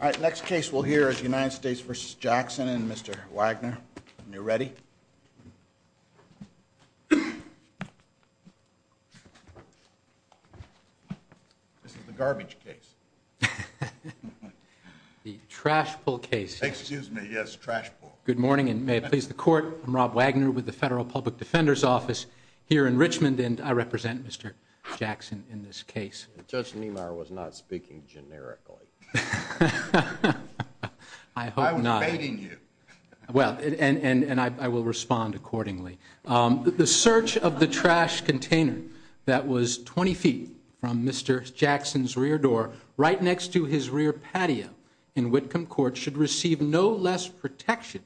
All right, next case we'll hear is United States v. Jackson and Mr. Wagner, when you're ready. This is the garbage case. The trash pull case. Excuse me, yes, trash pull. Good morning, and may it please the court. I'm Rob Wagner with the Federal Public Defender's Office here in Richmond, and I represent Mr. Jackson in this case. Judge Niemeyer was not speaking generically. I hope not. I was baiting you. Well, and I will respond accordingly. The search of the trash container that was 20 feet from Mr. Jackson's rear door, right next to his rear patio in Whitcomb Court, should receive no less protection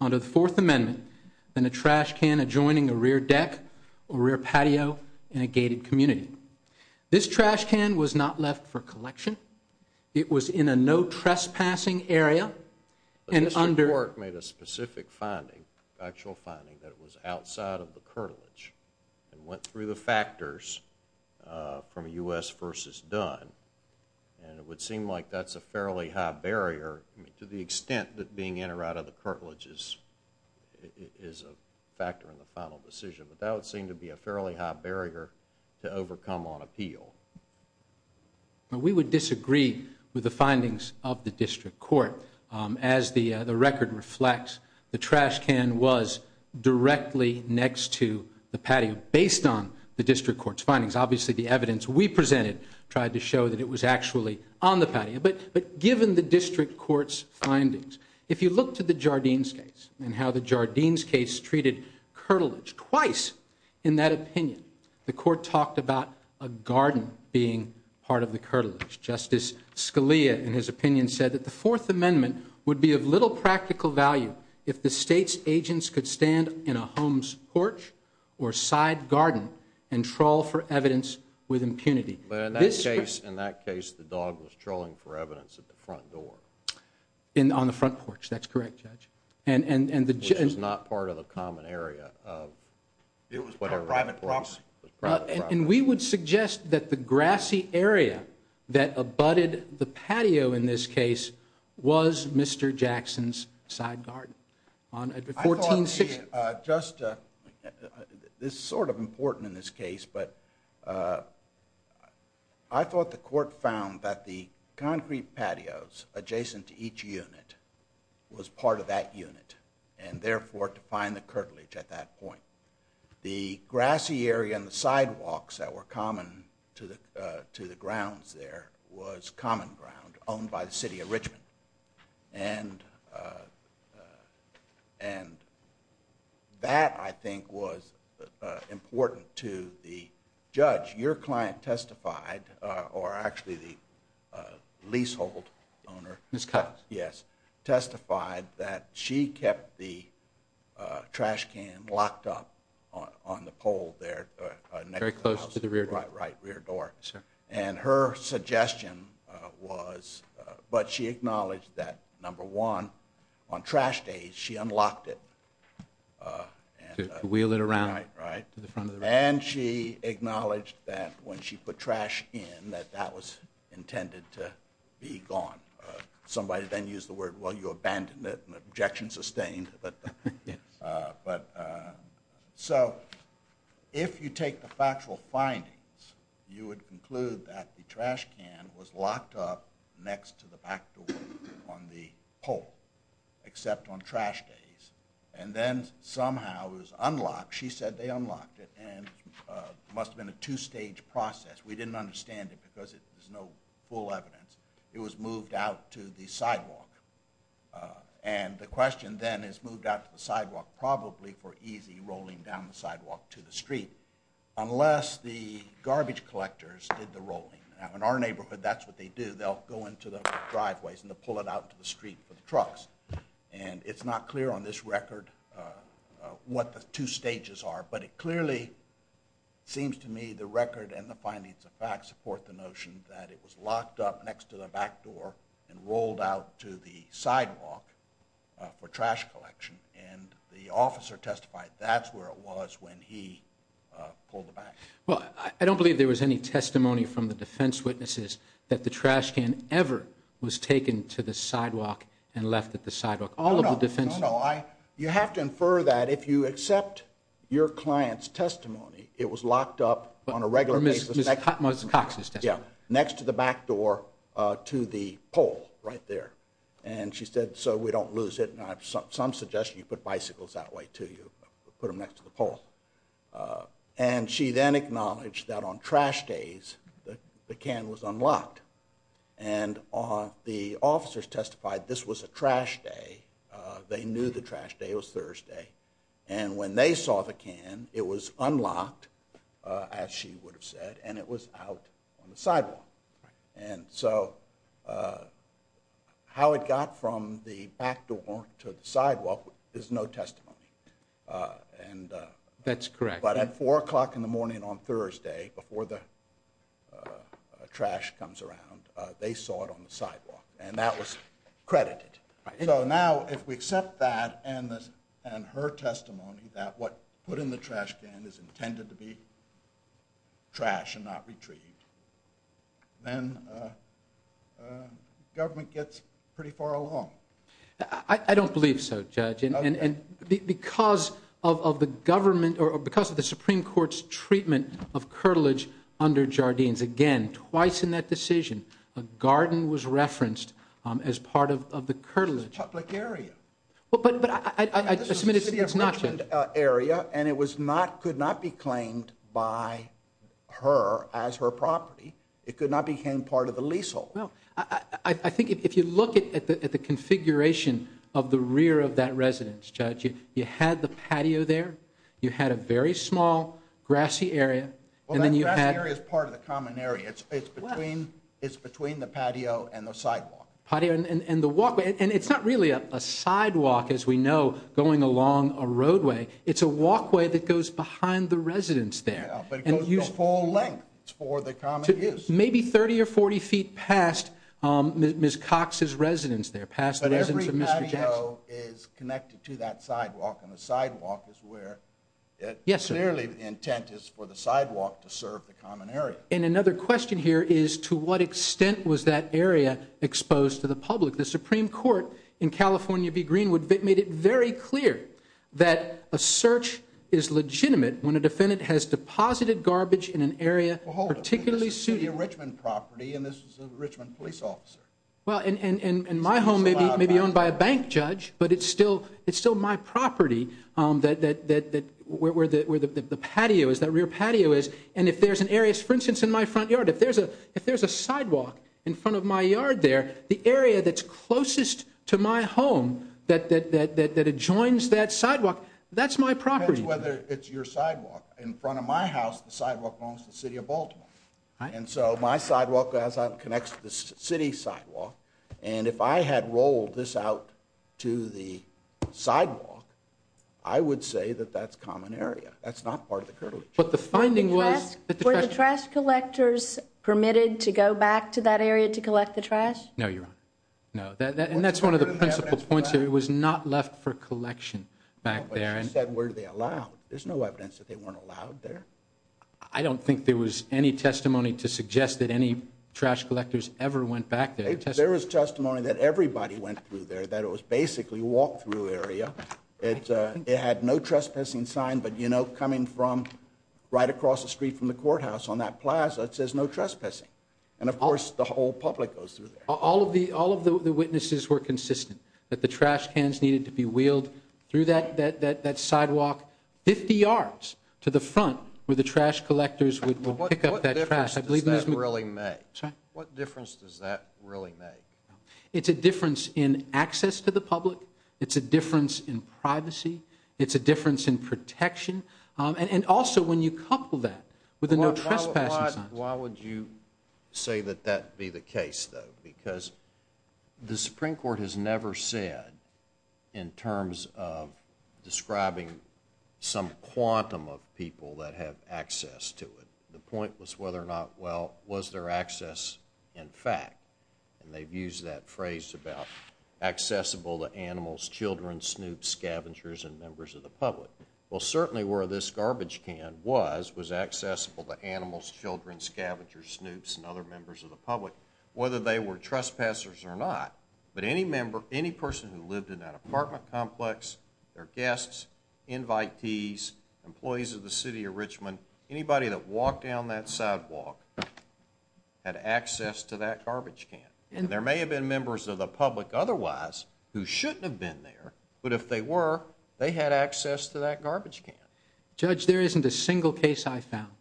under the Fourth Amendment than a trash can adjoining a rear deck or rear patio in a gated community. This trash can was not left for collection. It was in a no trespassing area and under But this report made a specific finding, actual finding, that it was outside of the cartilage and went through the factors from U.S. v. Dunn, and it would seem like that's a fairly high barrier to the extent that being in or out of the cartilage is a factor in the final decision. But that would seem to be a fairly high barrier to overcome on appeal. We would disagree with the findings of the district court. As the record reflects, the trash can was directly next to the patio based on the district court's findings. Obviously, the evidence we presented tried to show that it was actually on the patio. But given the district court's findings, if you look to the Jardines case and how the Jardines case treated cartilage, twice in that opinion, the court talked about a garden being part of the cartilage. Justice Scalia, in his opinion, said that the Fourth Amendment would be of little practical value if the state's agents could stand in a home's porch or side garden and trawl for evidence with impunity. But in that case, the dog was trawling for evidence at the front door. On the front porch, that's correct, Judge. Which was not part of the common area of whatever. It was private property. And we would suggest that the grassy area that abutted the patio in this case was Mr. Jackson's side garden. This is sort of important in this case, but I thought the court found that the concrete patios adjacent to each unit was part of that unit, and therefore to find the cartilage at that point. The grassy area and the sidewalks that were common to the grounds there was common ground, owned by the city of Richmond. And that, I think, was important to the judge. Your client testified, or actually the leasehold owner testified that she kept the trash can locked up on the pole there. Very close to the rear door. Right, rear door. Yes, sir. And her suggestion was, but she acknowledged that, number one, on trash days, she unlocked it. To wheel it around. Right, right. To the front of the room. And she acknowledged that when she put trash in, that that was intended to be gone. Somebody then used the word, well, you abandoned it, and the objection sustained. So, if you take the factual findings, you would conclude that the trash can was locked up next to the back door on the pole. Except on trash days. And then, somehow, it was unlocked. She said they unlocked it, and it must have been a two-stage process. We didn't understand it because there's no full evidence. It was moved out to the sidewalk. And the question, then, is moved out to the sidewalk probably for easy rolling down the sidewalk to the street. Unless the garbage collectors did the rolling. In our neighborhood, that's what they do. They'll go into the driveways, and they'll pull it out to the street for the trucks. And it's not clear on this record what the two stages are. But it clearly seems to me the record and the findings of fact support the notion that it was locked up next to the back door and rolled out to the sidewalk for trash collection. And the officer testified that's where it was when he pulled it back. Well, I don't believe there was any testimony from the defense witnesses that the trash can ever was taken to the sidewalk and left at the sidewalk. You have to infer that if you accept your client's testimony, it was locked up on a regular basis next to the back door to the pole right there. And she said, so we don't lose it. And I have some suggestion you put bicycles that way, too. You put them next to the pole. And she then acknowledged that on trash days, the can was unlocked. And the officers testified this was a trash day. They knew the trash day was Thursday. And when they saw the can, it was unlocked, as she would have said, and it was out on the sidewalk. And so how it got from the back door to the sidewalk is no testimony. That's correct. But at 4 o'clock in the morning on Thursday, before the trash comes around, they saw it on the sidewalk. And that was credited. So now if we accept that and her testimony that what was put in the trash can is intended to be trash and not retrieved, then government gets pretty far along. I don't believe so, Judge. Because of the Supreme Court's treatment of curtilage under Jardines, again, twice in that decision, a garden was referenced as part of the curtilage. It was a public area. But I submit it's not, Judge. It was a city of Richmond area, and it could not be claimed by her as her property. It could not become part of the leasehold. Well, I think if you look at the configuration of the rear of that residence, Judge, you had the patio there. You had a very small, grassy area. Well, that grassy area is part of the common area. It's between the patio and the sidewalk. Patio and the walkway. And it's not really a sidewalk, as we know, going along a roadway. It's a walkway that goes behind the residence there. Yeah, but it goes the full length for the common use. It's maybe 30 or 40 feet past Ms. Cox's residence there, past the residence of Mr. Jackson. But every patio is connected to that sidewalk, and the sidewalk is where it clearly the intent is for the sidewalk to serve the common area. And another question here is to what extent was that area exposed to the public? The Supreme Court in California v. Greenwood made it very clear that a search is legitimate when a defendant has deposited garbage in an area particularly suitable. Well, hold on. This is a Richmond property, and this is a Richmond police officer. Well, and my home may be owned by a bank, Judge, but it's still my property where the patio is, that rear patio is. And if there's an area, for instance, in my front yard, if there's a sidewalk in front of my yard there, the area that's closest to my home that adjoins that sidewalk, that's my property. It depends whether it's your sidewalk. In front of my house, the sidewalk belongs to the city of Baltimore. And so my sidewalk connects to the city sidewalk. And if I had rolled this out to the sidewalk, I would say that that's common area. Were the trash collectors permitted to go back to that area to collect the trash? No, Your Honor. No. And that's one of the principal points here. It was not left for collection back there. But you said, were they allowed? There's no evidence that they weren't allowed there. I don't think there was any testimony to suggest that any trash collectors ever went back there. There was testimony that everybody went through there, that it was basically a walk-through area. It had no trespassing sign, but, you know, coming from right across the street from the courthouse on that plaza, it says no trespassing. And, of course, the whole public goes through there. All of the witnesses were consistent that the trash cans needed to be wheeled through that sidewalk 50 yards to the front where the trash collectors would pick up that trash. What difference does that really make? It's a difference in access to the public. It's a difference in privacy. It's a difference in protection. And also when you couple that with a no trespassing sign. Why would you say that that be the case, though? Because the Supreme Court has never said in terms of describing some quantum of people that have access to it. The point was whether or not, well, was their access in fact. And they've used that phrase about accessible to animals, children, snoops, scavengers, and members of the public. Well, certainly where this garbage can was, was accessible to animals, children, scavengers, snoops, and other members of the public, whether they were trespassers or not. But any person who lived in that apartment complex, their guests, invitees, employees of the city of Richmond, anybody that walked down that sidewalk had access to that garbage can. And there may have been members of the public otherwise who shouldn't have been there, but if they were, they had access to that garbage can. Judge, there isn't a single case I found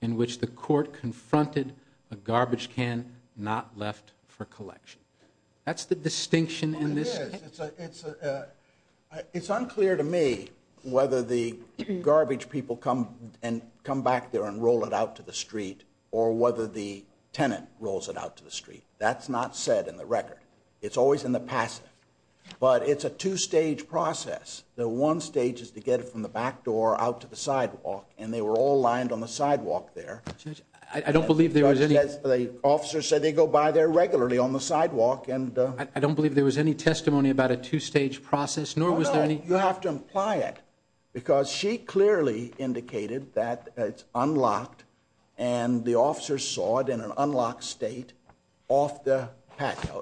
in which the court confronted a garbage can not left for collection. That's the distinction in this case. It's unclear to me whether the garbage people come and come back there and roll it out to the street or whether the tenant rolls it out to the street. That's not said in the record. It's always in the passive. But it's a two-stage process. The one stage is to get it from the back door out to the sidewalk, and they were all lined on the sidewalk there. Judge, I don't believe there was any – The officer said they go by there regularly on the sidewalk, and – I don't believe there was any testimony about a two-stage process, nor was there any – Oh, no, you have to imply it, because she clearly indicated that it's unlocked, and the officer saw it in an unlocked state off the –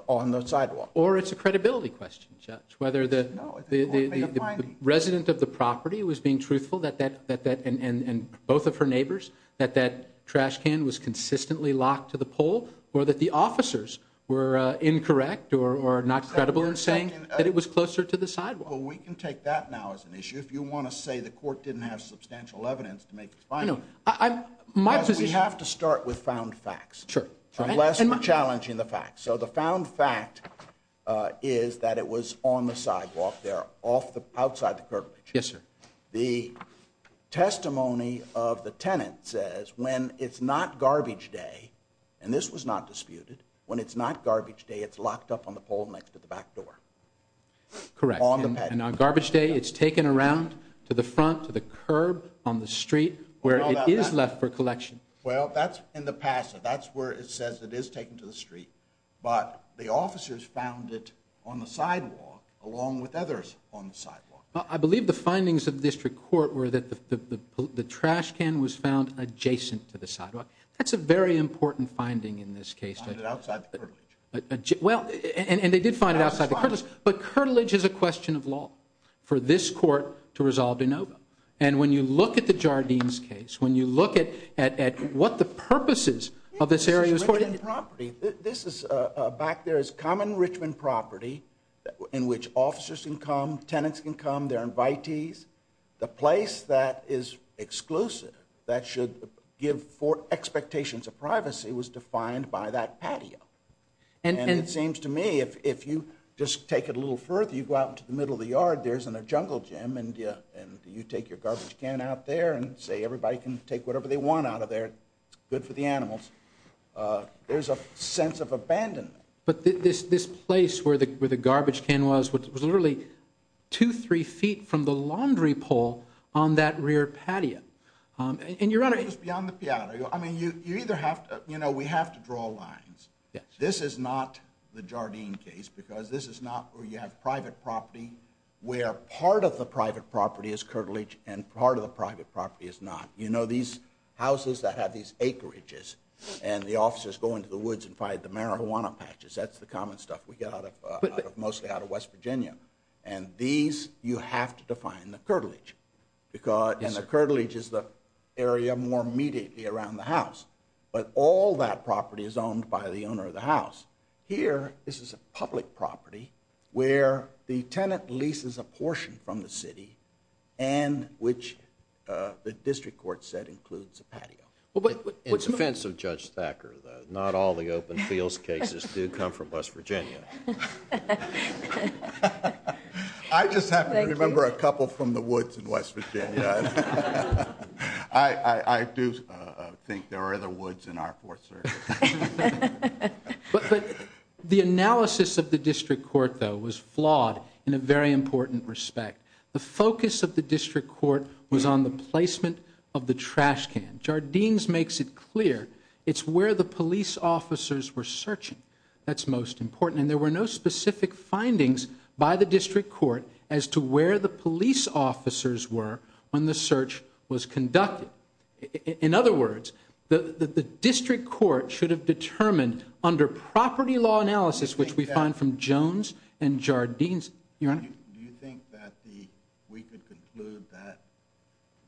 on the sidewalk. Or it's a credibility question, Judge, whether the – No, it wouldn't be a finding. The resident of the property was being truthful that that – and both of her neighbors, that that trash can was consistently locked to the pole, or that the officers were incorrect or not credible in saying that it was closer to the sidewalk. Well, we can take that now as an issue. If you want to say the court didn't have substantial evidence to make it a finding – No, I'm – my position – We have to start with found facts. Sure. Unless we're challenging the facts. So the found fact is that it was on the sidewalk there, off the – outside the curb. Yes, sir. The testimony of the tenant says when it's not garbage day – and this was not disputed – when it's not garbage day, it's locked up on the pole next to the back door. Correct. On the – And on garbage day, it's taken around to the front, to the curb, on the street, where it is left for collection. Well, that's in the past. That's where it says it is taken to the street. But the officers found it on the sidewalk, along with others on the sidewalk. I believe the findings of the district court were that the trash can was found adjacent to the sidewalk. That's a very important finding in this case. Found it outside the curtilage. Well, and they did find it outside the curtilage. But curtilage is a question of law for this court to resolve de novo. And when you look at the Jardines case, when you look at what the purposes of this area is for – This is Richmond property. This is – back there is common Richmond property in which officers can come, tenants can come, there are invitees. The place that is exclusive, that should give for expectations of privacy, was defined by that patio. And it seems to me if you just take it a little further, you go out to the middle of the yard, there's a jungle gym, and you take your garbage can out there and say everybody can take whatever they want out of there. It's good for the animals. There's a sense of abandonment. But this place where the garbage can was was literally two, three feet from the laundry pole on that rear patio. It goes beyond the patio. I mean, you either have to – you know, we have to draw lines. This is not the Jardines case because this is not where you have private property where part of the private property is curtilage and part of the private property is not. You know, these houses that have these acreages and the officers go into the woods and find the marijuana patches, that's the common stuff we get out of – mostly out of West Virginia. And these, you have to define the curtilage. And the curtilage is the area more immediately around the house. But all that property is owned by the owner of the house. Here, this is a public property where the tenant leases a portion from the city and which the district court said includes a patio. In defense of Judge Thacker, though, not all the open fields cases do come from West Virginia. I just happen to remember a couple from the woods in West Virginia. I do think there are other woods in our fourth circuit. But the analysis of the district court, though, was flawed in a very important respect. The focus of the district court was on the placement of the trash can. Jardines makes it clear it's where the police officers were searching that's most important. And there were no specific findings by the district court as to where the police officers were when the search was conducted. In other words, the district court should have determined under property law analysis, which we find from Jones and Jardines. Your Honor? Do you think that we could conclude that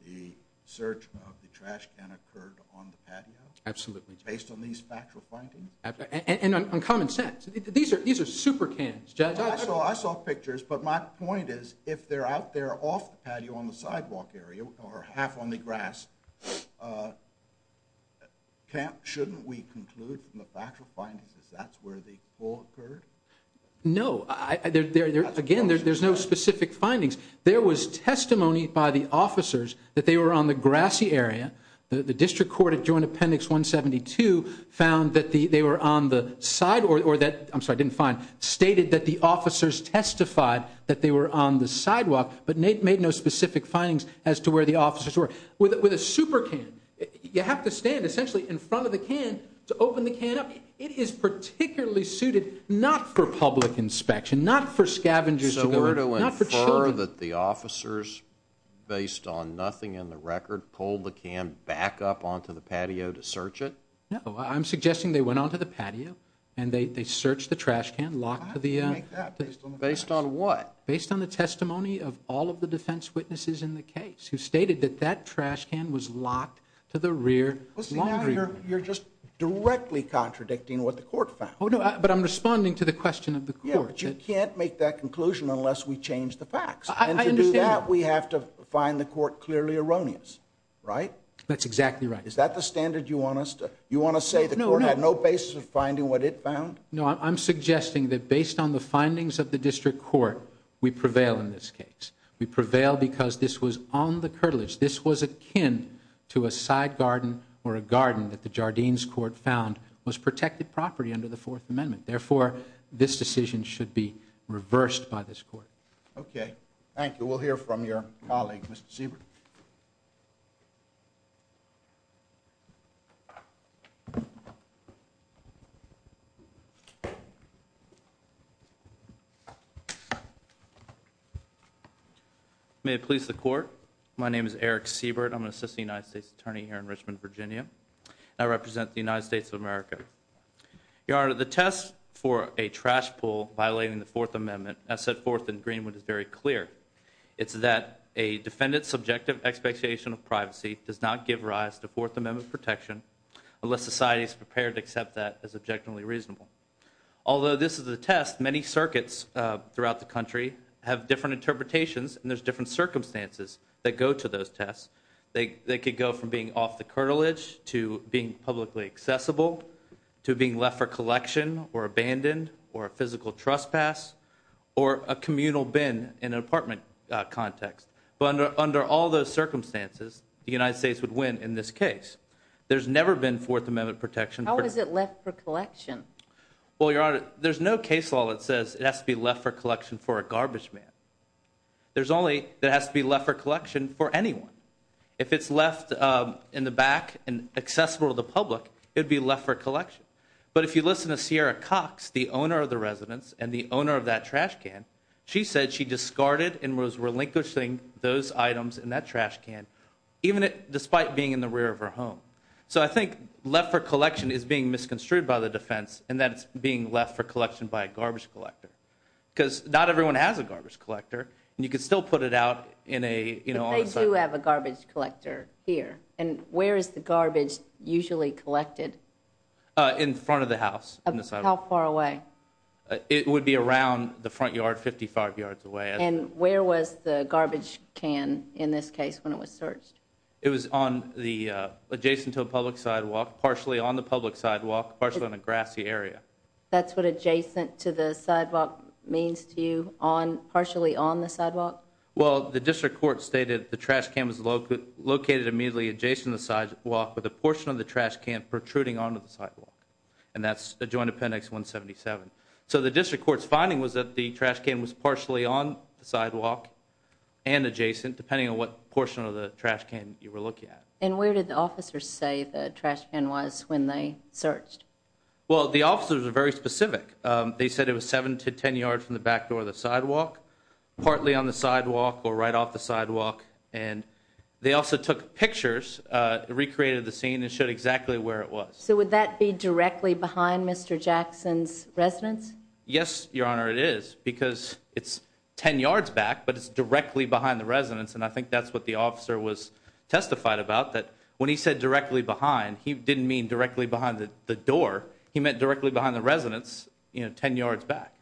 the search of the trash can occurred on the patio? Absolutely. Based on these factual findings? And on common sense. These are super cans, Judge. I saw pictures, but my point is if they're out there off the patio on the sidewalk area or half on the grass, shouldn't we conclude from the factual findings that that's where the fall occurred? No. Again, there's no specific findings. There was testimony by the officers that they were on the grassy area. The district court at Joint Appendix 172 found that they were on the side or that, I'm sorry, didn't find, stated that the officers testified that they were on the sidewalk, but made no specific findings as to where the officers were. With a super can, you have to stand essentially in front of the can to open the can up. It is particularly suited not for public inspection, not for scavengers to go in, not for children. Are you sure that the officers, based on nothing in the record, pulled the can back up onto the patio to search it? No. I'm suggesting they went onto the patio and they searched the trash can. Based on what? Based on the testimony of all of the defense witnesses in the case who stated that that trash can was locked to the rear laundry room. You're just directly contradicting what the court found. But I'm responding to the question of the court. Yeah, but you can't make that conclusion unless we change the facts. And to do that, we have to find the court clearly erroneous, right? That's exactly right. Is that the standard you want us to, you want to say the court had no basis of finding what it found? No, I'm suggesting that based on the findings of the district court, we prevail in this case. We prevail because this was on the curtilage. This was akin to a side garden or a garden that the Jardines court found was protected property under the Fourth Amendment. Therefore, this decision should be reversed by this court. Okay. Thank you. We'll hear from your colleague, Mr. Siebert. May it please the court, my name is Eric Siebert. I'm an assistant United States attorney here in Richmond, Virginia. I represent the United States of America. Your Honor, the test for a trash pull violating the Fourth Amendment as set forth in Greenwood is very clear. It's that a defendant's subjective expectation of privacy does not give rise to Fourth Amendment protection unless society is prepared to accept that as objectively reasonable. Although this is a test, many circuits throughout the country have different interpretations and there's different circumstances that go to those tests. They could go from being off the curtilage to being publicly accessible to being left for collection or abandoned or a physical trespass or a communal bin in an apartment context. But under all those circumstances, the United States would win in this case. There's never been Fourth Amendment protection. How is it left for collection? Well, Your Honor, there's no case law that says it has to be left for collection for a garbage man. There's only that it has to be left for collection for anyone. If it's left in the back and accessible to the public, it would be left for collection. But if you listen to Sierra Cox, the owner of the residence and the owner of that trash can, she said she discarded and was relinquishing those items in that trash can despite being in the rear of her home. So I think left for collection is being misconstrued by the defense in that it's being left for collection by a garbage collector. Because not everyone has a garbage collector, and you can still put it out on a sidewalk. But they do have a garbage collector here. And where is the garbage usually collected? In front of the house. How far away? It would be around the front yard, 55 yards away. And where was the garbage can in this case when it was searched? It was adjacent to a public sidewalk, partially on the public sidewalk, partially on a grassy area. That's what adjacent to the sidewalk means to you? Partially on the sidewalk? Well, the district court stated the trash can was located immediately adjacent to the sidewalk with a portion of the trash can protruding onto the sidewalk. And that's adjoined appendix 177. So the district court's finding was that the trash can was partially on the sidewalk and adjacent, depending on what portion of the trash can you were looking at. And where did the officers say the trash can was when they searched? Well, the officers were very specific. They said it was 7 to 10 yards from the back door of the sidewalk, partly on the sidewalk or right off the sidewalk. And they also took pictures, recreated the scene, and showed exactly where it was. So would that be directly behind Mr. Jackson's residence? Yes, Your Honor, it is. Because it's 10 yards back, but it's directly behind the residence. And I think that's what the officer was testified about, that when he said directly behind, he didn't mean directly behind the door. He meant directly behind the residence, you know, 10 yards back.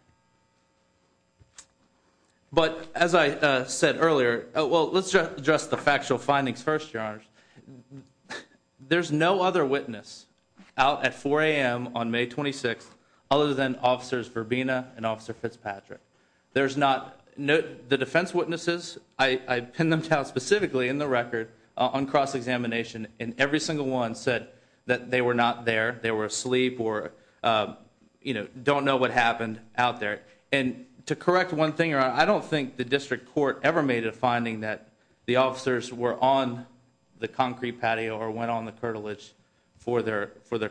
But as I said earlier, well, let's address the factual findings first, Your Honor. There's no other witness out at 4 a.m. on May 26th other than Officers Verbina and Officer Fitzpatrick. The defense witnesses, I pinned them down specifically in the record on cross-examination, and every single one said that they were not there, they were asleep or, you know, don't know what happened out there. And to correct one thing, Your Honor, I don't think the district court ever made a finding that the officers were on the concrete patio or went on the curtilage for their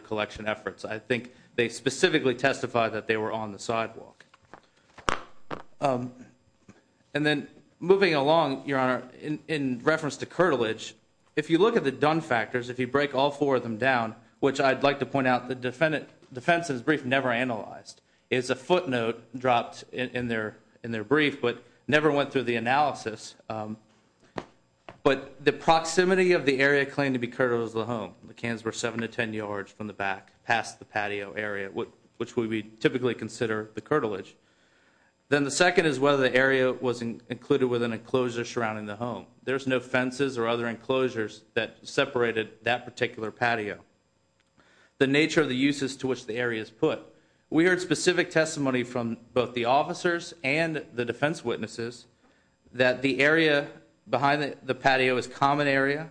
collection efforts. I think they specifically testified that they were on the sidewalk. And then moving along, Your Honor, in reference to curtilage, if you look at the done factors, if you break all four of them down, which I'd like to point out the defense's brief never analyzed. It's a footnote dropped in their brief, but never went through the analysis. But the proximity of the area claimed to be curtilage of the home, the cans were 7 to 10 yards from the back past the patio area, which we typically consider the curtilage. Then the second is whether the area was included with an enclosure surrounding the home. There's no fences or other enclosures that separated that particular patio. The nature of the uses to which the area is put. We heard specific testimony from both the officers and the defense witnesses that the area behind the patio is common area,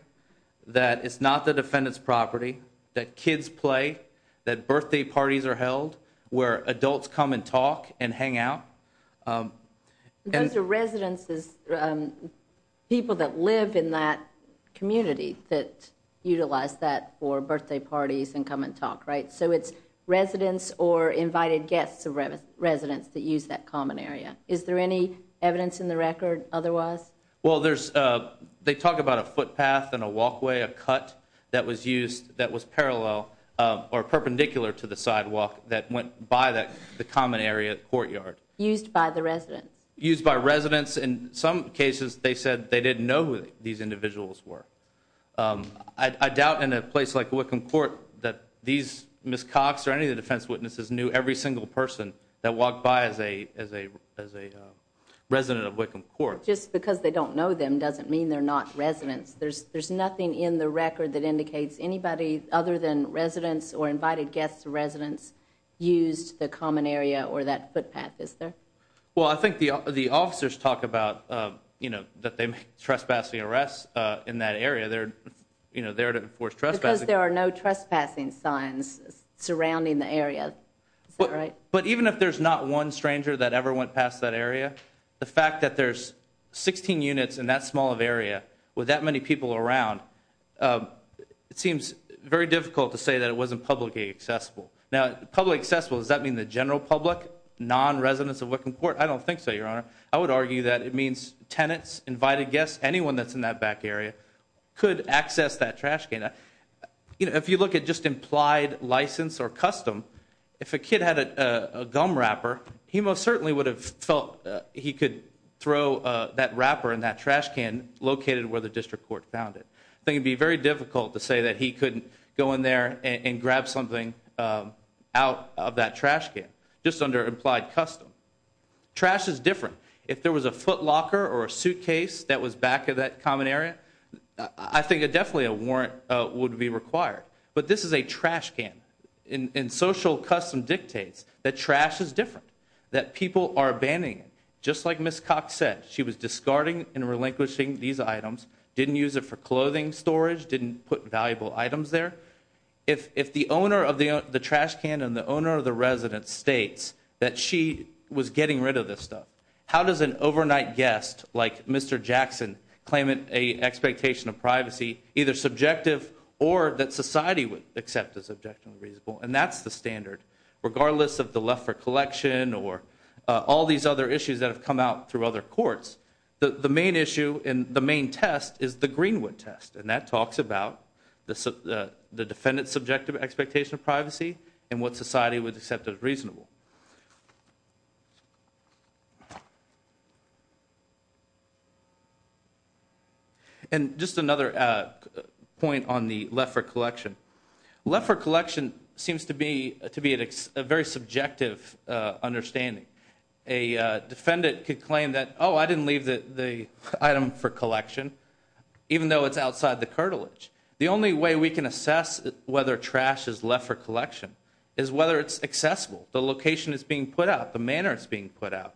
that it's not the defendant's property, that kids play, that birthday parties are held, where adults come and talk and hang out. Those are residences, people that live in that community that utilize that for birthday parties and come and talk, right? So it's residents or invited guests of residents that use that common area. Is there any evidence in the record otherwise? Well, they talk about a footpath and a walkway, a cut that was used that was parallel or perpendicular to the sidewalk that went by the common area courtyard. Used by the residents. Used by residents. In some cases, they said they didn't know who these individuals were. I doubt in a place like Wickham Court that these Ms. Cox or any of the defense witnesses knew every single person that walked by as a resident of Wickham Court. Just because they don't know them doesn't mean they're not residents. There's nothing in the record that indicates anybody other than residents or invited guests of residents used the common area or that footpath, is there? Well, I think the officers talk about, you know, that they make trespassing arrests in that area. They're there to enforce trespassing. Because there are no trespassing signs surrounding the area. Is that right? But even if there's not one stranger that ever went past that area, the fact that there's 16 units in that small of area with that many people around, it seems very difficult to say that it wasn't publicly accessible. Now, publicly accessible, does that mean the general public, non-residents of Wickham Court? I don't think so, Your Honor. I would argue that it means tenants, invited guests, anyone that's in that back area could access that trash can. You know, if you look at just implied license or custom, if a kid had a gum wrapper, he most certainly would have felt he could throw that wrapper in that trash can located where the district court found it. I think it would be very difficult to say that he couldn't go in there and grab something out of that trash can, just under implied custom. Trash is different. If there was a footlocker or a suitcase that was back in that common area, I think definitely a warrant would be required. But this is a trash can. And social custom dictates that trash is different, that people are abandoning it. Just like Ms. Cox said, she was discarding and relinquishing these items, didn't use it for clothing storage, didn't put valuable items there. If the owner of the trash can and the owner of the residence states that she was getting rid of this stuff, how does an overnight guest like Mr. Jackson claim an expectation of privacy, either subjective or that society would accept as objectively reasonable? And that's the standard, regardless of the Leffert Collection or all these other issues that have come out through other courts. The main issue and the main test is the Greenwood Test. And that talks about the defendant's subjective expectation of privacy and what society would accept as reasonable. And just another point on the Leffert Collection. Leffert Collection seems to be a very subjective understanding. A defendant could claim that, oh, I didn't leave the item for collection, even though it's outside the cartilage. The only way we can assess whether trash is Leffert Collection is whether it's accessible, the location it's being put out, the manner it's being put out.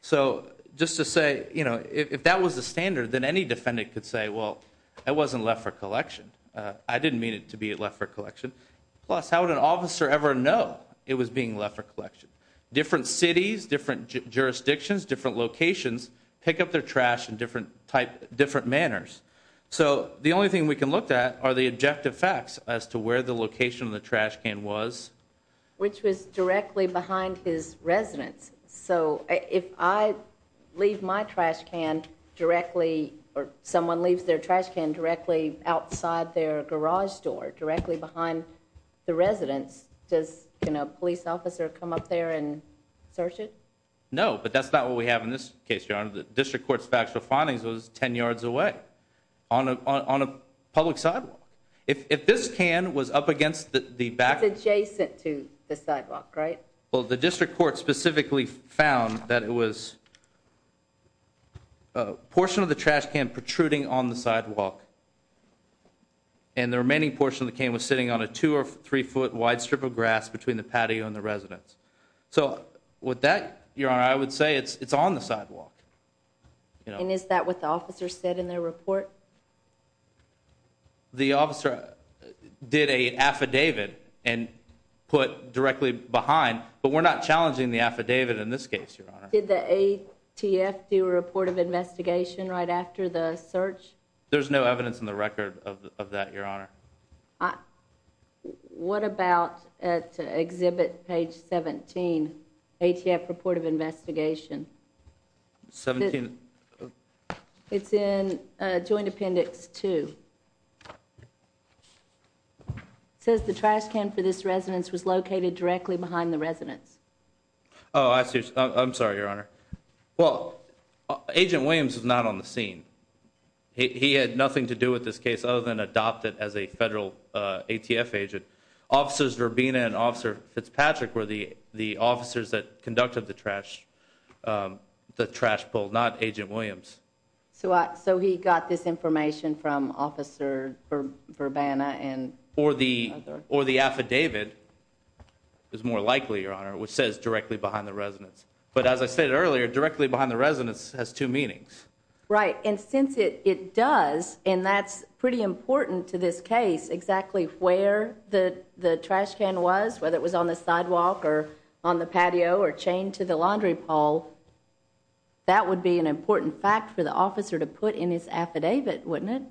So just to say, you know, if that was the standard, then any defendant could say, well, it wasn't Leffert Collection. I didn't mean it to be a Leffert Collection. Plus, how would an officer ever know it was being Leffert Collection? Different cities, different jurisdictions, different locations pick up their trash in different manners. So the only thing we can look at are the objective facts as to where the location of the trash can was. Which was directly behind his residence. So if I leave my trash can directly or someone leaves their trash can directly outside their garage door, directly behind the residence, does a police officer come up there and search it? No, but that's not what we have in this case, Your Honor. The district court's factual findings was 10 yards away on a public sidewalk. If this can was up against the back. It's adjacent to the sidewalk, right? Well, the district court specifically found that it was a portion of the trash can protruding on the sidewalk. And the remaining portion of the can was sitting on a 2 or 3 foot wide strip of grass between the patio and the residence. So with that, Your Honor, I would say it's on the sidewalk. And is that what the officer said in their report? The officer did an affidavit and put directly behind. But we're not challenging the affidavit in this case, Your Honor. Did the ATF do a report of investigation right after the search? There's no evidence in the record of that, Your Honor. What about at exhibit page 17, ATF report of investigation? 17? It's in Joint Appendix 2. It says the trash can for this residence was located directly behind the residence. Oh, I see. I'm sorry, Your Honor. Well, Agent Williams is not on the scene. He had nothing to do with this case other than adopt it as a federal ATF agent. Officers Verbena and Officer Fitzpatrick were the officers that conducted the trash pull, not Agent Williams. So he got this information from Officer Verbena? Or the affidavit, it's more likely, Your Honor, which says directly behind the residence. But as I said earlier, directly behind the residence has two meanings. Right. And since it does, and that's pretty important to this case, exactly where the trash can was, whether it was on the sidewalk or on the patio or chained to the laundry pole, that would be an important fact for the officer to put in his affidavit, wouldn't it?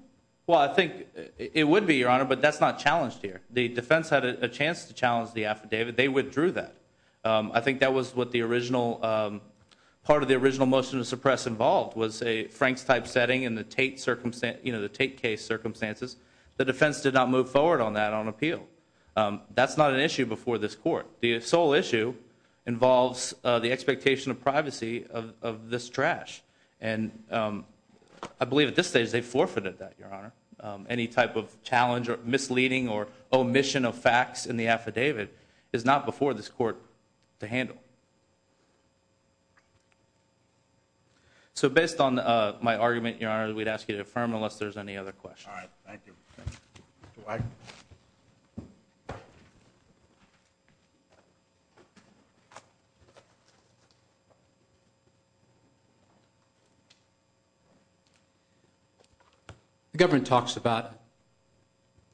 Well, I think it would be, Your Honor, but that's not challenged here. The defense had a chance to challenge the affidavit. They withdrew that. I think that was what the original part of the original motion to suppress involved, was a Frank's type setting in the Tate case circumstances. The defense did not move forward on that on appeal. That's not an issue before this court. The sole issue involves the expectation of privacy of this trash. And I believe at this stage they forfeited that, Your Honor. Any type of challenge or misleading or omission of facts in the affidavit is not before this court to handle. So based on my argument, Your Honor, we'd ask you to affirm unless there's any other questions. All right. Thank you. Mr. White. The government talks about a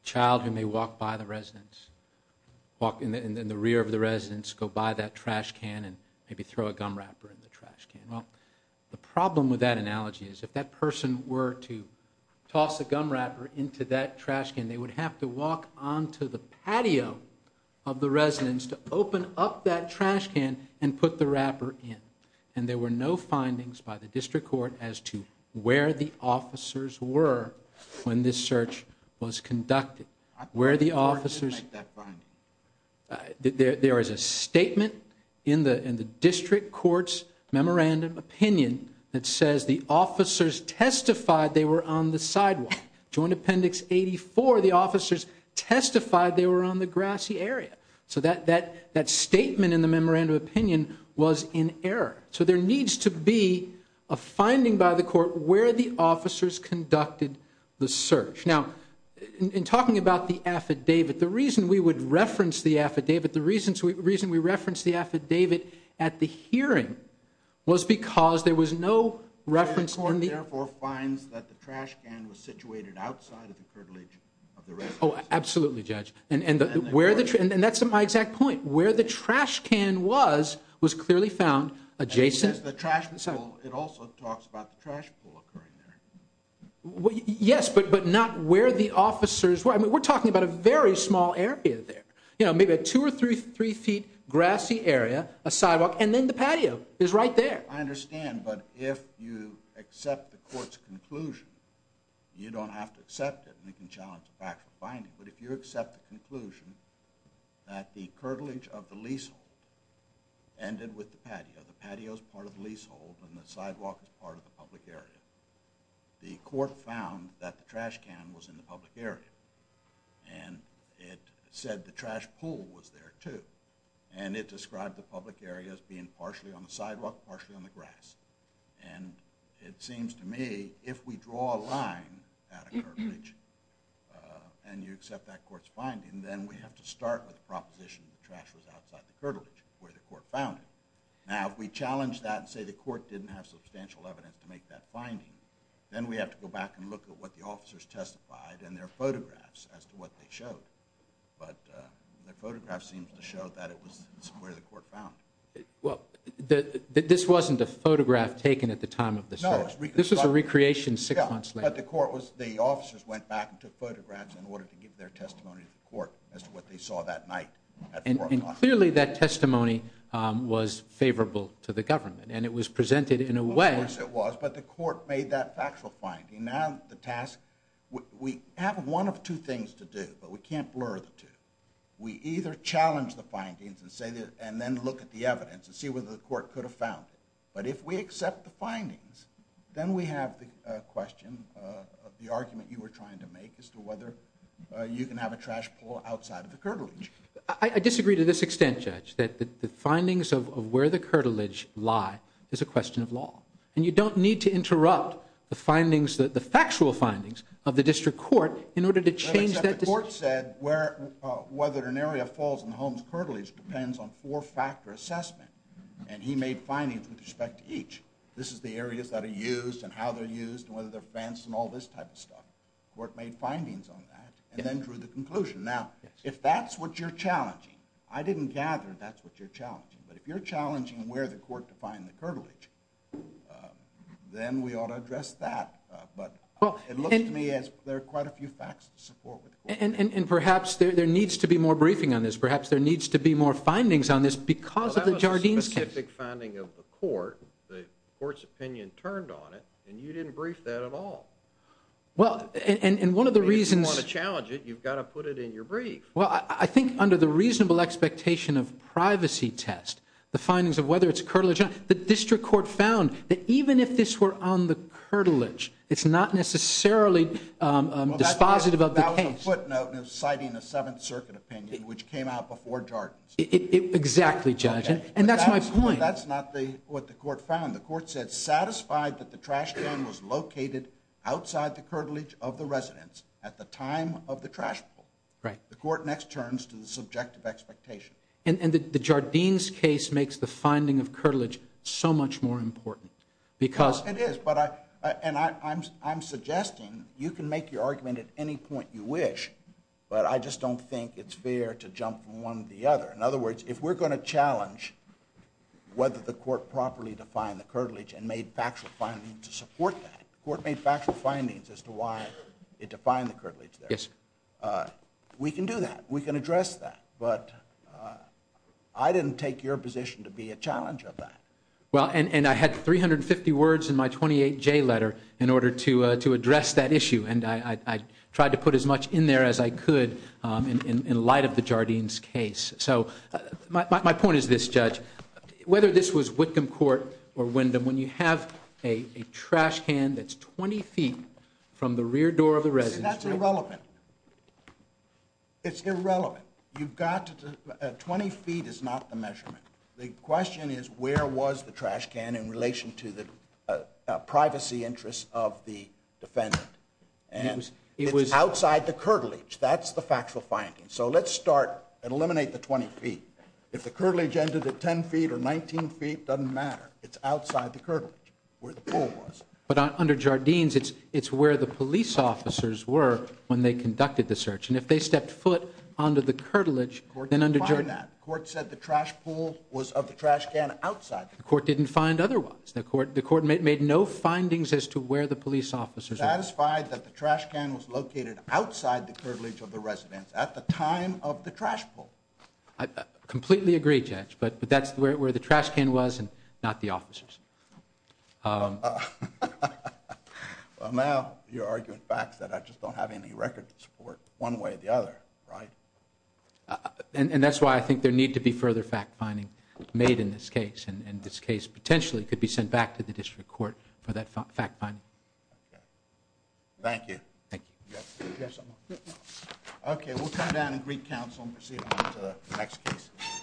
child who may walk by the residence, walk in the rear of the residence, go by that trash can and maybe throw a gum wrapper in the trash can. Well, the problem with that analogy is if that person were to toss a gum wrapper into that trash can, they would have to walk onto the patio of the residence to open up that trash can and put the wrapper in. And there were no findings by the district court as to where the officers were when this search was conducted. There is a statement in the district court's memorandum opinion that says the officers testified they were on the sidewalk. Joint Appendix 84, the officers testified they were on the grassy area. So that statement in the memorandum opinion was in error. So there needs to be a finding by the court where the officers conducted the search. Now, in talking about the affidavit, the reason we would reference the affidavit, the reason we referenced the affidavit at the hearing was because there was no reference. The court therefore finds that the trash can was situated outside of the curtilage of the residence. Oh, absolutely, Judge. And that's my exact point. Where the trash can was was clearly found adjacent. It also talks about the trash pool occurring there. Yes, but not where the officers were. I mean, we're talking about a very small area there. You know, maybe a two or three feet grassy area, a sidewalk, and then the patio is right there. I understand, but if you accept the court's conclusion, you don't have to accept it and it can challenge a factual finding. But if you accept the conclusion that the curtilage of the leasehold ended with the patio, the patio is part of the leasehold and the sidewalk is part of the public area, the court found that the trash can was in the public area. And it said the trash pool was there, too. And it described the public area as being partially on the sidewalk, partially on the grass. And it seems to me, if we draw a line at a curtilage and you accept that court's finding, then we have to start with the proposition that the trash was outside the curtilage where the court found it. Now, if we challenge that and say the court didn't have substantial evidence to make that finding, then we have to go back and look at what the officers testified and their photographs as to what they showed. But the photograph seems to show that it was where the court found it. Well, this wasn't a photograph taken at the time of the search. No, it was reconstructed. This was a recreation six months later. Yeah, but the officers went back and took photographs in order to give their testimony to the court as to what they saw that night. And clearly that testimony was favorable to the government, and it was presented in a way. Of course it was, but the court made that factual finding. Now the task, we have one of two things to do, but we can't blur the two. We either challenge the findings and then look at the evidence and see whether the court could have found it. But if we accept the findings, then we have the question of the argument you were trying to make as to whether you can have a trash pull outside of the curtilage. I disagree to this extent, Judge, that the findings of where the curtilage lie is a question of law, and you don't need to interrupt the factual findings of the district court in order to change that decision. Except the court said whether an area falls in the home's curtilage depends on four-factor assessment, and he made findings with respect to each. This is the areas that are used and how they're used and whether they're fenced and all this type of stuff. The court made findings on that and then drew the conclusion. Now, if that's what you're challenging, I didn't gather that's what you're challenging, but if you're challenging where the court defined the curtilage, then we ought to address that. But it looks to me as there are quite a few facts to support what the court said. And perhaps there needs to be more briefing on this. Perhaps there needs to be more findings on this because of the Jardines case. Well, that was a specific finding of the court. The court's opinion turned on it, and you didn't brief that at all. Well, and one of the reasons- If you want to challenge it, you've got to put it in your brief. Well, I think under the reasonable expectation of privacy test, the findings of whether it's curtilage, the district court found that even if this were on the curtilage, it's not necessarily dispositive of the case. Well, that was a footnote in citing a Seventh Circuit opinion, which came out before Jardines. Exactly, Judge, and that's my point. But that's not what the court found. The court said satisfied that the trash can was located outside the curtilage of the residence at the time of the trash pull. Right. The court next turns to the subjective expectation. And the Jardines case makes the finding of curtilage so much more important because- It is, and I'm suggesting you can make your argument at any point you wish, but I just don't think it's fair to jump from one to the other. In other words, if we're going to challenge whether the court properly defined the curtilage and made factual findings to support that, the court made factual findings as to why it defined the curtilage there. Yes. We can do that. We can address that. But I didn't take your position to be a challenge of that. Well, and I had 350 words in my 28J letter in order to address that issue, and I tried to put as much in there as I could in light of the Jardines case. So my point is this, Judge, whether this was Whitcomb Court or Wyndham, when you have a trash can that's 20 feet from the rear door of the residence- See, that's irrelevant. It's irrelevant. You've got to- 20 feet is not the measurement. The question is where was the trash can in relation to the privacy interests of the defendant? And it's outside the curtilage. That's the factual finding. So let's start and eliminate the 20 feet. If the curtilage ended at 10 feet or 19 feet, it doesn't matter. It's outside the curtilage where the pool was. But under Jardines, it's where the police officers were when they conducted the search. And if they stepped foot onto the curtilage- The court didn't find that. The court said the trash pool was of the trash can outside. The court didn't find otherwise. The court made no findings as to where the police officers were. Are you satisfied that the trash can was located outside the curtilage of the residence at the time of the trash pool? I completely agree, Judge, but that's where the trash can was and not the officers. Well, now you're arguing facts that I just don't have any record to support one way or the other, right? And that's why I think there needs to be further fact-finding made in this case. And this case potentially could be sent back to the district court for that fact-finding. Okay. Thank you. Thank you. Okay, we'll come down and greet counsel and proceed on to the next case.